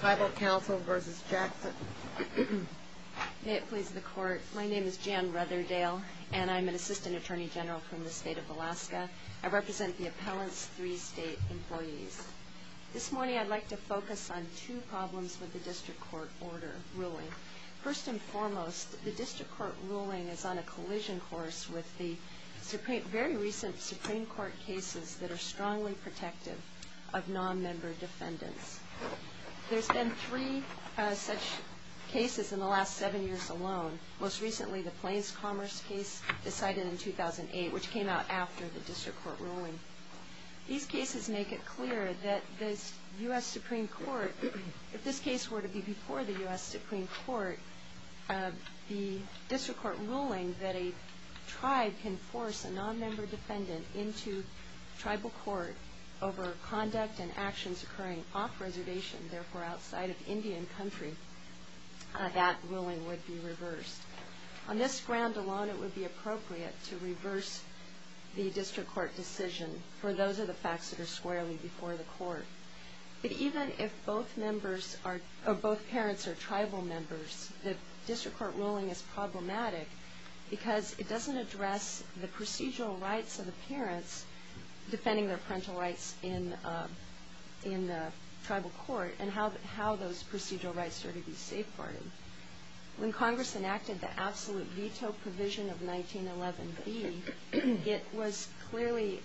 Tribal Council versus Jackson. May it please the court. My name is Jan Rutherdale, and I'm an assistant attorney general from the state of Alaska. I represent the appellant's three state employees. This morning, I'd like to focus on two problems with the district court order ruling. First and foremost, the district court ruling is on a collision course with the very recent Supreme Court cases that are strongly protective of non-member defendants. There's been three such cases in the last seven years alone. Most recently, the Plains Commerce case decided in 2008, which came out after the district court ruling. These cases make it clear that the US Supreme Court, if this case were to be before the US Supreme Court, the district court ruling that a tribe can force a non-member defendant into tribal court over conduct and actions occurring off-reservation, therefore outside of Indian country, that ruling would be reversed. On this ground alone, it would be appropriate to reverse the district court decision, for those are the facts that are squarely before the court. the district court ruling is problematic because it doesn't address the procedural rights of the parents defending their parental rights in the tribal court, and how those procedural rights are to be safeguarded. When Congress enacted the absolute veto provision of 1911B, it was clearly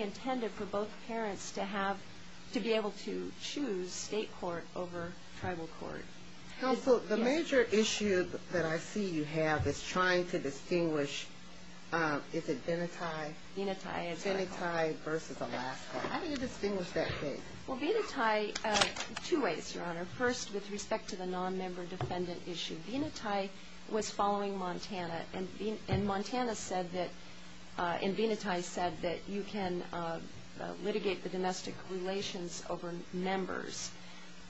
intended for both parents to be able to choose state court over tribal court. Counsel, the major issue that I see you have is trying to distinguish, is it Venati? Venati. Venati versus Alaska. How do you distinguish that case? Well, Venati, two ways, Your Honor. First, with respect to the non-member defendant issue. Venati was following Montana, and Venati said that you can litigate the domestic relations over members,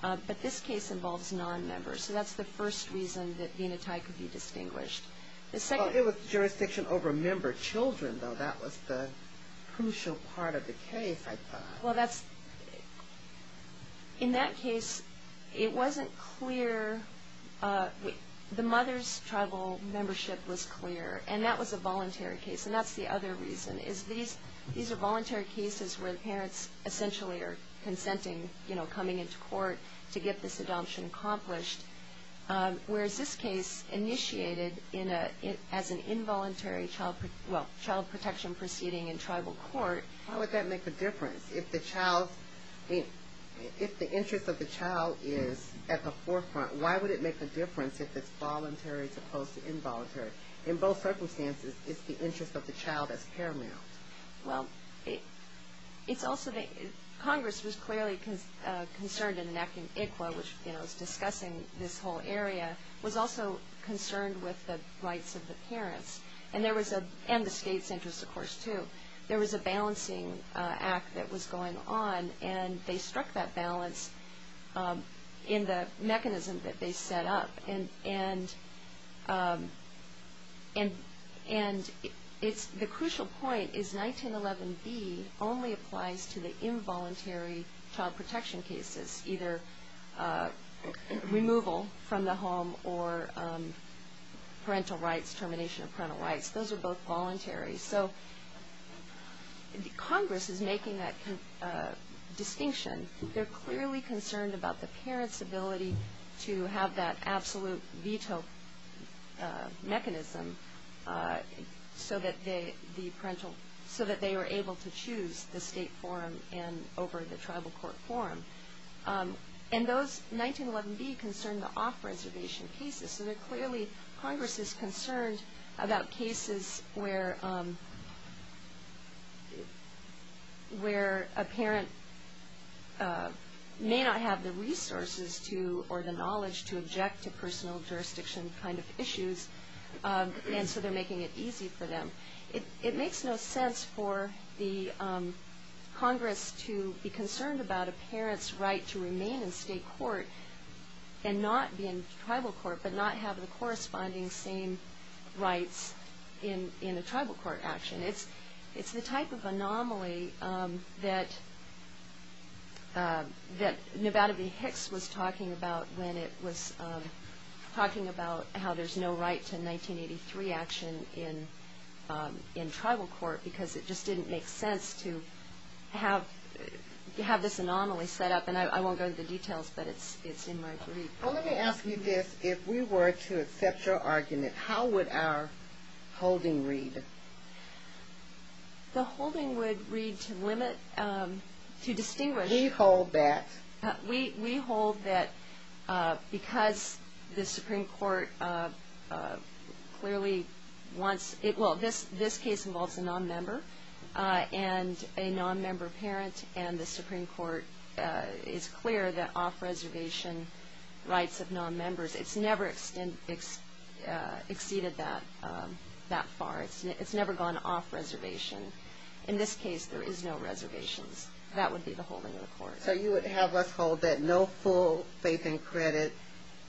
but this case involves non-members. So that's the first reason that Venati could be distinguished. The second was jurisdiction over member children, though that was the crucial part of the case, I thought. Well, in that case, it wasn't clear. The mother's tribal membership was clear, and that was a voluntary case. And that's the other reason, is these are voluntary cases where the parents essentially are consenting, coming into court to get this adoption accomplished, whereas this case initiated as an involuntary child protection proceeding in tribal court. Why would that make a difference? If the interest of the child is at the forefront, why would it make a difference if it's voluntary as opposed to involuntary? In both circumstances, it's the interest of the child that's paramount. Well, Congress was clearly concerned in enacting ICWA, which is discussing this whole area, was also concerned with the rights of the parents, and the state's interest, of course, too. There was a balancing act that was going on, and they struck that balance in the mechanism that they set up. And the crucial point is 1911B only applies to the involuntary child protection cases, either removal from the home or parental rights, termination of parental rights. Those are both voluntary. So Congress is making that distinction. They're clearly concerned about the parents' ability to have that absolute veto mechanism, so that they were able to choose the state forum over the tribal court forum. And those 1911B concern the off-reservation cases. So clearly, Congress is concerned about cases where a parent may not have the resources or the knowledge to object to personal jurisdiction kind of issues, and so they're making it easy for them. It makes no sense for Congress to be concerned about a parent's right to remain in state court and not be in tribal court, but not have the corresponding same rights in a tribal court action. It's the type of anomaly that Nevada v. Hicks was talking about when it was talking about how there's no right to 1983 action in tribal court, because it just didn't make sense to have this anomaly set up. And I won't go into the details, but it's in my belief. Well, let me ask you this. If we were to accept your argument, how would our holding read? The holding would read to distinguish. We hold that. We hold that because the Supreme Court clearly wants it. Well, this case involves a non-member and a non-member parent, and the Supreme Court is clear that off-reservation rights of non-members, it's never exceeded that far. It's never gone off-reservation. In this case, there is no reservations. That would be the holding of the court. So you would have us hold that no full faith and credit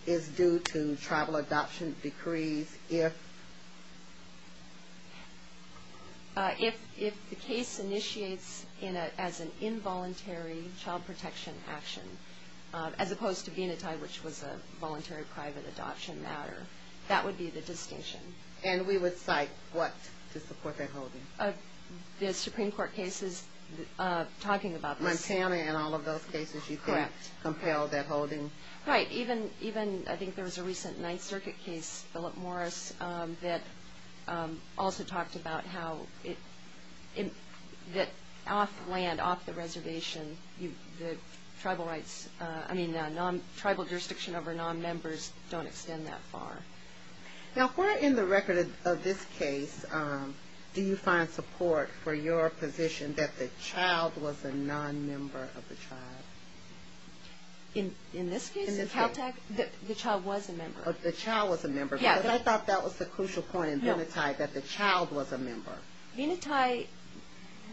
is due to tribal adoption decrees if? If the case initiates as an involuntary child protection action, as opposed to Venati, which was a voluntary private adoption matter, that would be the distinction. And we would cite what to support that holding? The Supreme Court cases talking about this. Montana and all of those cases, you couldn't compel that holding? Right, even I think there was a recent Ninth Circuit case, Philip Morris, that also talked about how off-land, off-the-reservation, the tribal jurisdiction over non-members don't extend that far. Now, if we're in the record of this case, do you find support for your position that the child was a non-member of the tribe? In this case, the child was a member. The child was a member, because I thought that was the crucial point in Venati, that the child was a member. Venati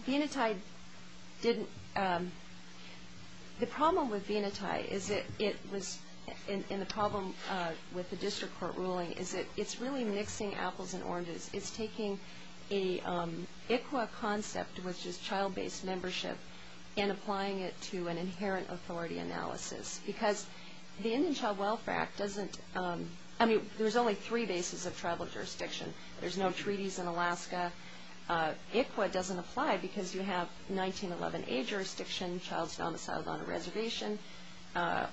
didn't. The problem with Venati, and the problem with the district court ruling, is that it's really mixing apples and oranges. It's taking a ICWA concept, which is child-based membership, and applying it to an inherent authority analysis. Because the Indian Child Welfare Act doesn't, I mean, there's only three bases of tribal jurisdiction. There's no treaties in Alaska. ICWA doesn't apply, because you have 1911A jurisdiction, child's domiciled on a reservation.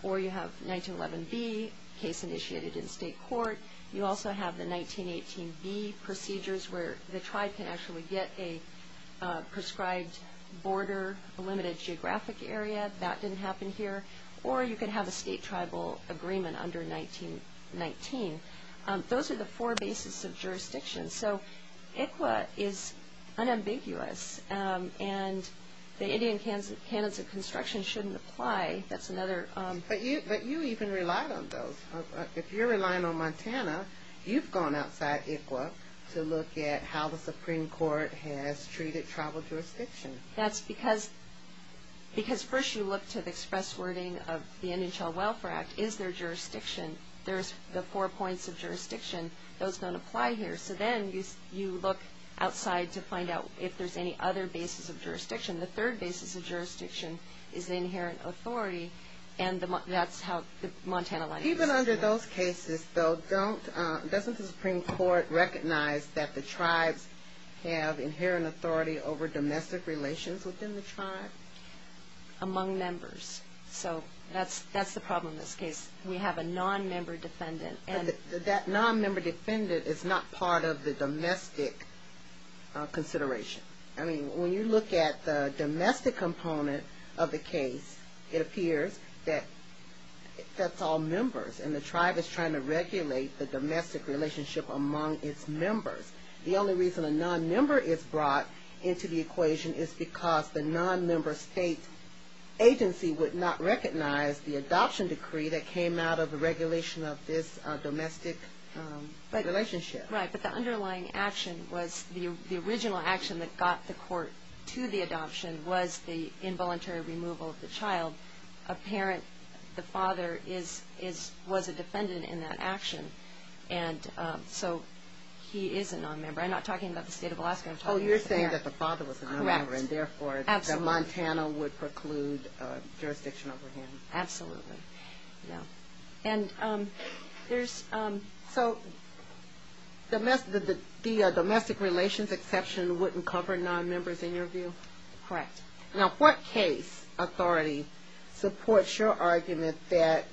Or you have 1911B, case initiated in state court. You also have the 1918B procedures, where the tribe can actually get a prescribed border, a limited geographic area. That didn't happen here. Or you could have a state-tribal agreement under 1919. Those are the four bases of jurisdiction. So ICWA is unambiguous. And the Indian canons of construction shouldn't apply. That's another. But you even relied on those. If you're relying on Montana, you've gone outside ICWA to look at how the Supreme Court has treated tribal jurisdiction. That's because first you look to the express wording of the Indian Child Welfare Act. Is there jurisdiction? There's the four points of jurisdiction. Those don't apply here. So then you look outside to find out if there's any other bases of jurisdiction. The third basis of jurisdiction is the inherent authority. And that's how the Montana line works. Even under those cases, though, doesn't the Supreme Court recognize that the tribes have inherent authority over domestic relations within the tribe? Among members. So that's the problem in this case. We have a non-member defendant. And that non-member defendant is not part of the domestic consideration. I mean, when you look at the domestic component of the case, it appears that that's all members. And the tribe is trying to regulate the domestic relationship among its members. The only reason a non-member is brought into the equation is because the non-member state agency would not have the adoption decree that came out of the regulation of this domestic relationship. Right. But the underlying action was the original action that got the court to the adoption was the involuntary removal of the child. A parent, the father, was a defendant in that action. And so he is a non-member. I'm not talking about the state of Alaska. I'm talking about the parent. Oh, you're saying that the father was a non-member. Correct. And therefore, Montana would preclude jurisdiction over him. Absolutely. Yeah. And there's... So the domestic relations exception wouldn't cover non-members in your view? Correct. Now, what case authority supports your argument that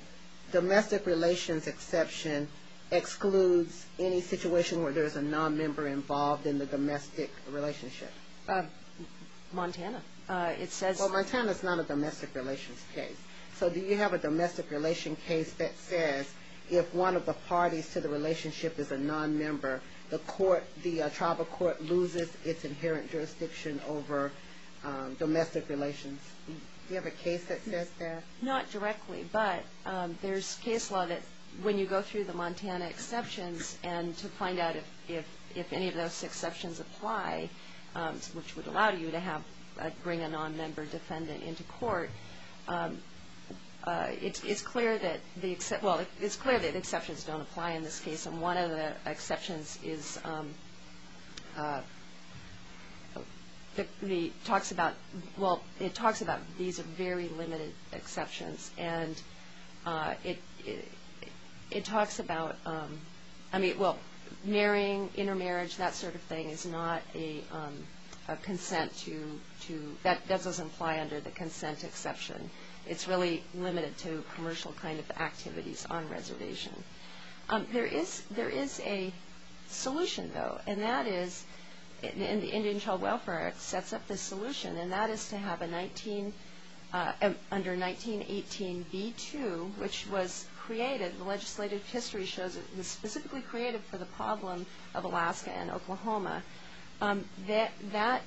domestic relations exception excludes any situation where there's a non-member involved in the domestic relationship? Montana. It says... Well, Montana's not a domestic relations case. So do you have a domestic relations case that says if one of the parties to the relationship is a non-member, the tribal court loses its inherent jurisdiction over domestic relations? Do you have a case that says that? Not directly, but there's case law that when you go through the Montana exceptions and to find out if any of those exceptions apply, which would allow you to bring a non-member defendant into court, it's clear that the exceptions don't apply in this case. And one of the exceptions talks about these are very limited exceptions. And it talks about marrying, intermarriage, that sort of thing is not a consent to... consent exception. It's really limited to commercial kind of activities on reservation. There is a solution, though. And that is in the Indian Child Welfare Act sets up the solution. And that is to have a 19... under 1918, B-2, which was created. The legislative history shows it was specifically created for the problem of Alaska and Oklahoma. That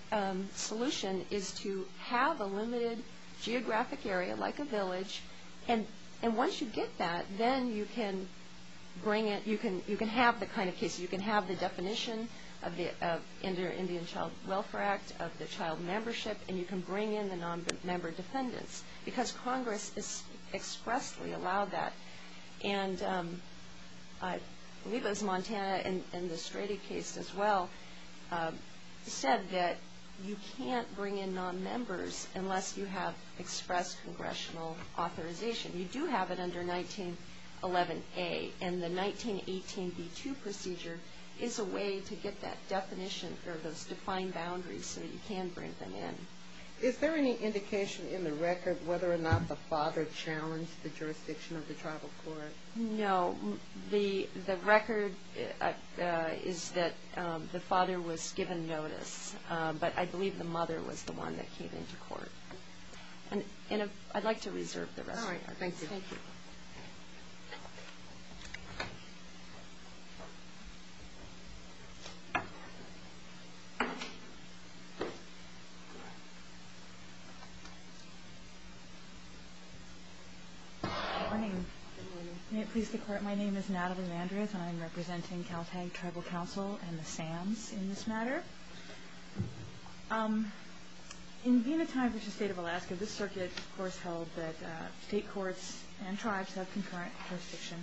solution is to have a limited geographic area, like a village. And once you get that, then you can bring it... you can have the kind of case, you can have the definition of the Indian Child Welfare Act, of the child membership, and you can bring in the non-member defendants. Because Congress expressly allowed that. And I believe it was Montana in the Strata case as well, said that you can't bring in non-members unless you have expressed congressional authorization. You do have it under 1911A. And the 1918, B-2 procedure is a way to get that definition for those defined boundaries so that you can bring them in. Is there any indication in the record whether or not the father challenged the jurisdiction of the tribal court? No. The record is that the father was given notice. But I believe the mother was the one that came into court. And I'd like to reserve the rest of your time. All right. Thank you. Thank you. Good morning. May it please the court, my name is Natalie Mandras. And I'm representing Caltech Tribal Council and the SAMS in this matter. In being a time which the state of Alaska, this circuit, of course, held that state courts and tribes have concurrent jurisdiction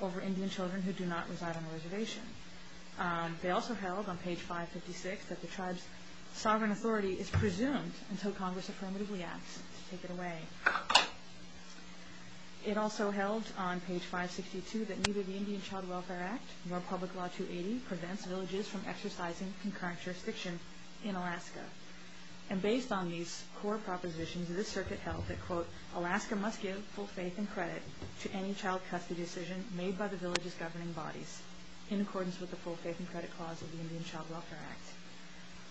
over Indian children who do not reside on a reservation. They also held on page 556 that the tribe's sovereign authority is presumed until Congress affirmatively acts to take it away. It also held on page 562 that neither the Indian Child Welfare Act nor Public Law 280 prevents villages from exercising concurrent jurisdiction in Alaska. And based on these core propositions, this circuit held that, quote, Alaska must give full faith and credit to any child custody decision made by the village's governing bodies in accordance with the full faith and credit clause of the Indian Child Welfare Act.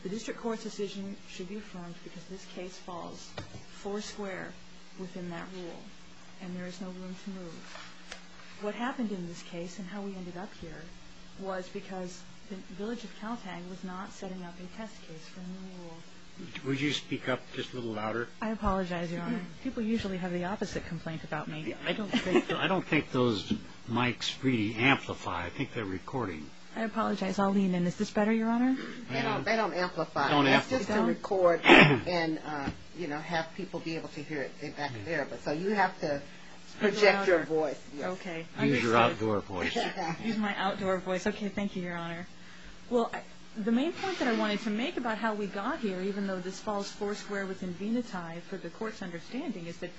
The district court's decision should be formed because this case falls four square within that rule. And there is no room to move. What happened in this case and how we ended up here was because the village of Caltech was not setting up a test case from the rule. Would you speak up just a little louder? I apologize, Your Honor. People usually have the opposite complaint about me. I don't think those mics really amplify. I think they're recording. I apologize. I'll lean in. Is this better, Your Honor? They don't amplify. They don't amplify. And have people be able to hear it back there. So you have to project your voice. OK. Use your outdoor voice. Use my outdoor voice. OK, thank you, Your Honor. Well, the main point that I wanted to make about how we got here, even though this falls four square within Venati for the court's understanding, is that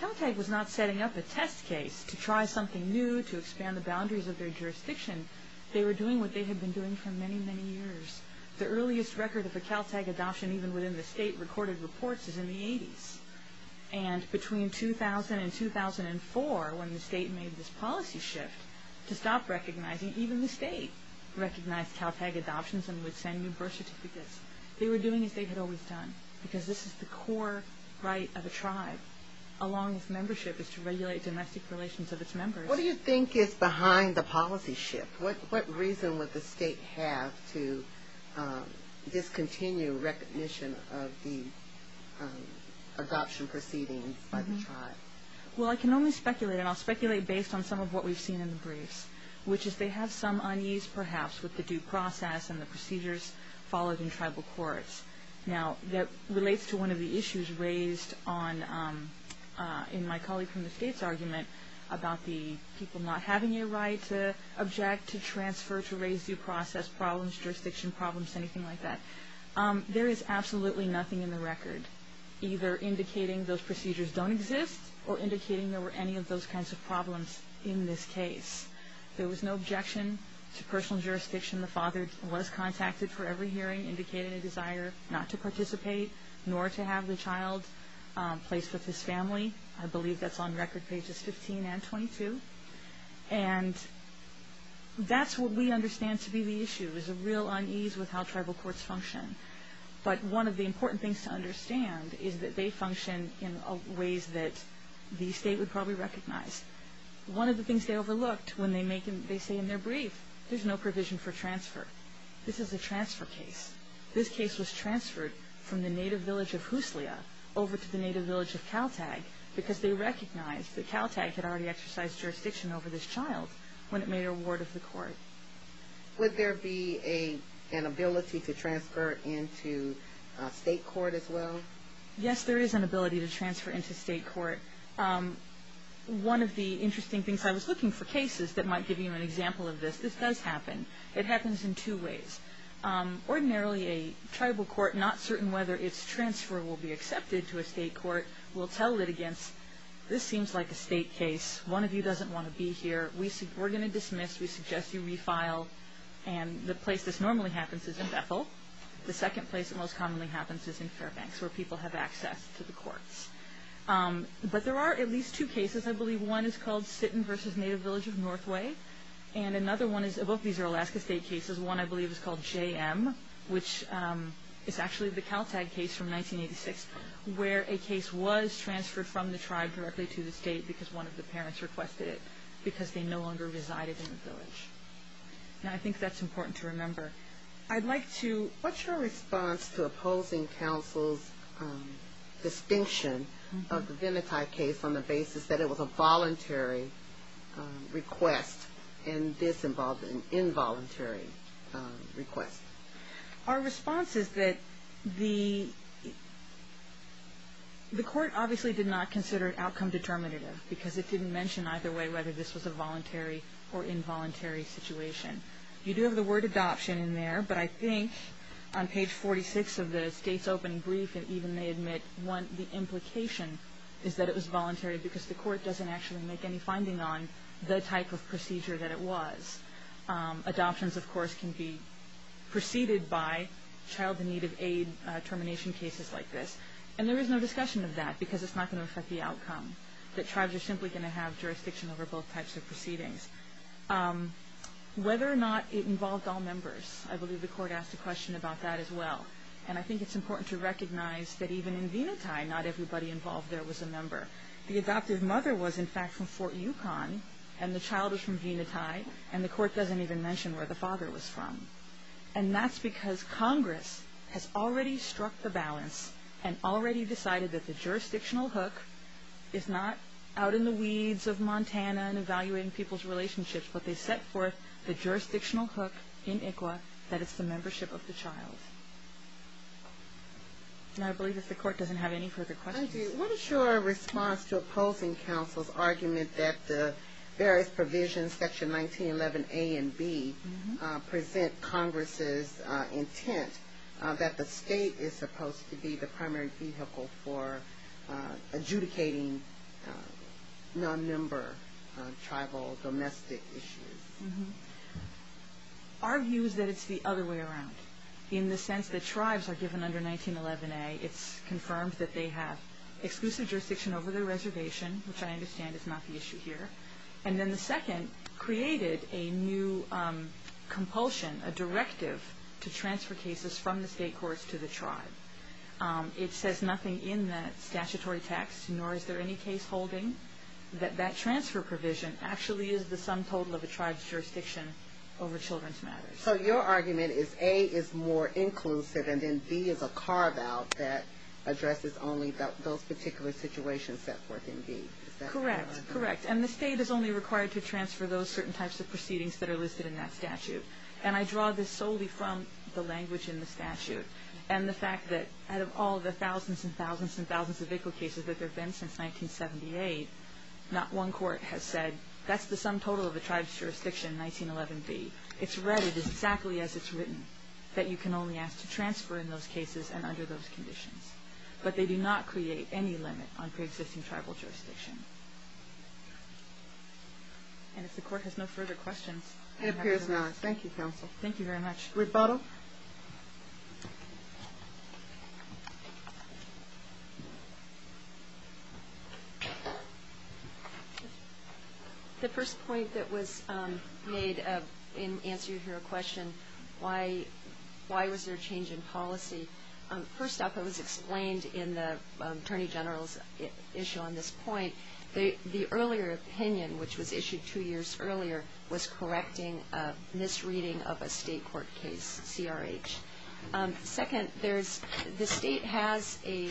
Caltech was not setting up a test case to try something new to expand the boundaries of their jurisdiction. They were doing what they had been doing for many, many years. The earliest record of a Caltech adoption, even within the state, recorded reports is in the 80s. And between 2000 and 2004, when the state made this policy shift to stop recognizing, even the state recognized Caltech adoptions and would send new birth certificates. They were doing as they had always done. Because this is the core right of a tribe. Along with membership is to regulate domestic relations of its members. What do you think is behind the policy shift? What reason would the state have to discontinue recognition of the adoption proceedings by the tribe? Well, I can only speculate. And I'll speculate based on some of what we've seen in the briefs, which is they have some unease, perhaps, with the due process and the procedures followed in tribal courts. Now, that relates to one of the issues raised in my colleague from the states argument about the people not having a right to object, to transfer, to raise due process problems, jurisdiction problems, anything like that. There is absolutely nothing in the record either indicating those procedures don't exist or indicating there were any of those kinds of problems in this case. There was no objection to personal jurisdiction. The father was contacted for every hearing, indicated a desire not to participate, nor to have the child placed with his family. I believe that's on record pages 15 and 22. And that's what we understand to be the issue, is a real unease with how tribal courts function. But one of the important things to understand is that they function in ways that the state would probably recognize. One of the things they overlooked when they say in their brief, there's no provision for transfer. This is a transfer case. This case was transferred from the native village of Huslia over to the native village of Kaltag because they recognized that Kaltag had already exercised jurisdiction over this child when it made a ward of the court. Would there be an ability to transfer into state court as well? Yes, there is an ability to transfer into state court. One of the interesting things, I was looking for cases that might give you an example of this. This does happen. It happens in two ways. Ordinarily, a tribal court, not certain whether its transfer will be accepted to a state court, will tell litigants, this seems like a state case. One of you doesn't want to be here. We're going to dismiss. We suggest you refile. And the place this normally happens is in Bethel. The second place it most commonly happens is in Fairbanks, where people have access to the courts. But there are at least two cases, I believe. One is called Sitton versus native village of Northway. And another one is, both of these are Alaska state cases. One, I believe, is called JM, which is actually the Caltag case from 1986, where a case was transferred from the tribe directly to the state because one of the parents requested it, because they no longer resided in the village. Now, I think that's important to remember. I'd like to, what's your response to opposing counsel's distinction of the Venati case on the basis that it was a voluntary request, and this involved an involuntary request? Our response is that the court obviously did not consider it outcome determinative, because it didn't mention either way whether this was a voluntary or involuntary situation. You do have the word adoption in there, but I think on page 46 of the state's opening brief, and even they admit one, the implication is that it was voluntary, because the court doesn't actually make any finding on the type of procedure that it was. Adoptions, of course, can be preceded by child in need of aid termination cases like this. And there is no discussion of that, because it's not going to affect the outcome, that tribes are simply going to have jurisdiction over both types of proceedings. Whether or not it involved all members, I believe the court asked a question about that as well. And I think it's important to recognize that even in Venati, not everybody involved there was a member. The adoptive mother was, in fact, from Fort Yukon, and the child was from Venati. And the court doesn't even mention where the father was from. And that's because Congress has already struck the balance and already decided that the jurisdictional hook is not out in the weeds of Montana and evaluating people's relationships, but they set forth the jurisdictional hook in ICWA, that it's the membership of the child. And I believe that the court doesn't have any further questions. Thank you. What is your response to opposing counsel's argument that the various provisions, section 1911A and B, present Congress's intent that the state is supposed to be the primary vehicle for adjudicating non-member tribal domestic issues? Our view is that it's the other way around. In the sense that tribes are given under 1911A, it's confirmed that they have exclusive jurisdiction over their reservation, which I understand is not the issue here. And then the second created a new compulsion, a directive, to transfer cases from the state courts to the tribe. It says nothing in that statutory text, nor is there any case holding, that that transfer provision actually is the sum total of a tribe's jurisdiction over children's matters. So your argument is A is more inclusive, and then B is a carve-out that addresses only those particular situations set forth in B. Correct, correct. And the state is only required to transfer those certain types of proceedings that are listed in that statute. And I draw this solely from the language in the statute and the fact that out of all the thousands and thousands and thousands of vehicle cases that there have been since 1978, not one court has said, that's the sum total of the tribe's jurisdiction, 1911B. It's read exactly as it's written, that you can only ask to transfer in those cases and under those conditions. But they do not create any limit on pre-existing tribal jurisdiction. And if the court has no further questions. It appears not. Thank you, counsel. Thank you very much. Rebuttal. The first point that was made in answer to your question, why was there a change in policy? First up, it was explained in the Attorney General's issue on this point, the earlier opinion, which was issued two years earlier, was correcting a misreading of a state court case, CRH. Second, the state has a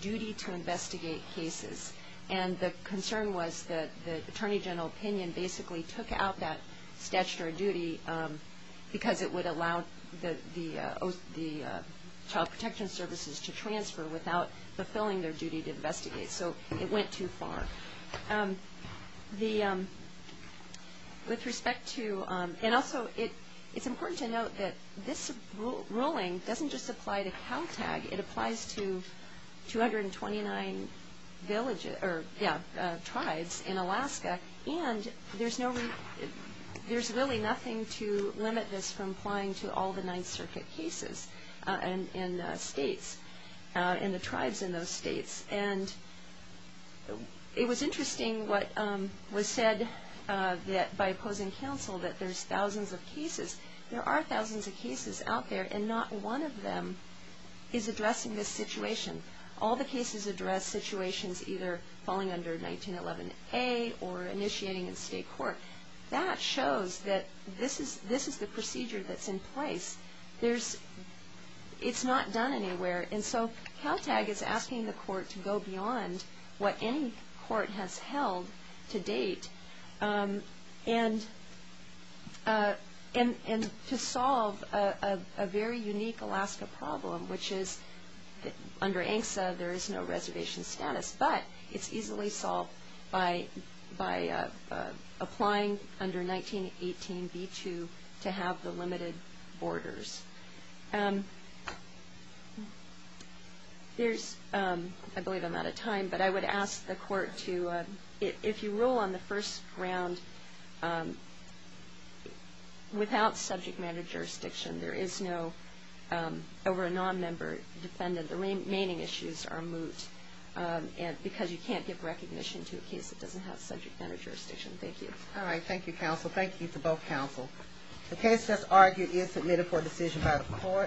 duty to investigate cases. And the concern was that the Attorney General opinion basically took out that statutory duty because it would allow the Child Protection Services to transfer without fulfilling their duty to investigate. So it went too far. And also, it's important to note that this ruling doesn't just apply to Caltag. It applies to 229 tribes in Alaska. And there's really nothing to limit this from applying to all the Ninth Circuit cases in states, and the tribes in those states. And it was interesting what was said by opposing counsel, that there's thousands of cases. There are thousands of cases out there, and not one of them is addressing this situation. All the cases address situations either falling under 1911a or initiating in state court. That shows that this is the procedure that's in place. It's not done anywhere. And so Caltag is asking the court to go beyond what any court has held to date and to solve a very unique Alaska problem, which is under ANCSA, there is no reservation status. But it's easily solved by applying under 1918b2 to have the limited borders. There's, I believe I'm out of time, but I would ask the court to, if you rule on the first round, without subject matter jurisdiction, there is no, over a non-member defendant, the remaining issues are moot. Because you can't give recognition to a case that doesn't have subject matter jurisdiction. Thank you. All right. Thank you, counsel. Thank you to both counsel. The case that's argued is submitted for decision by the court.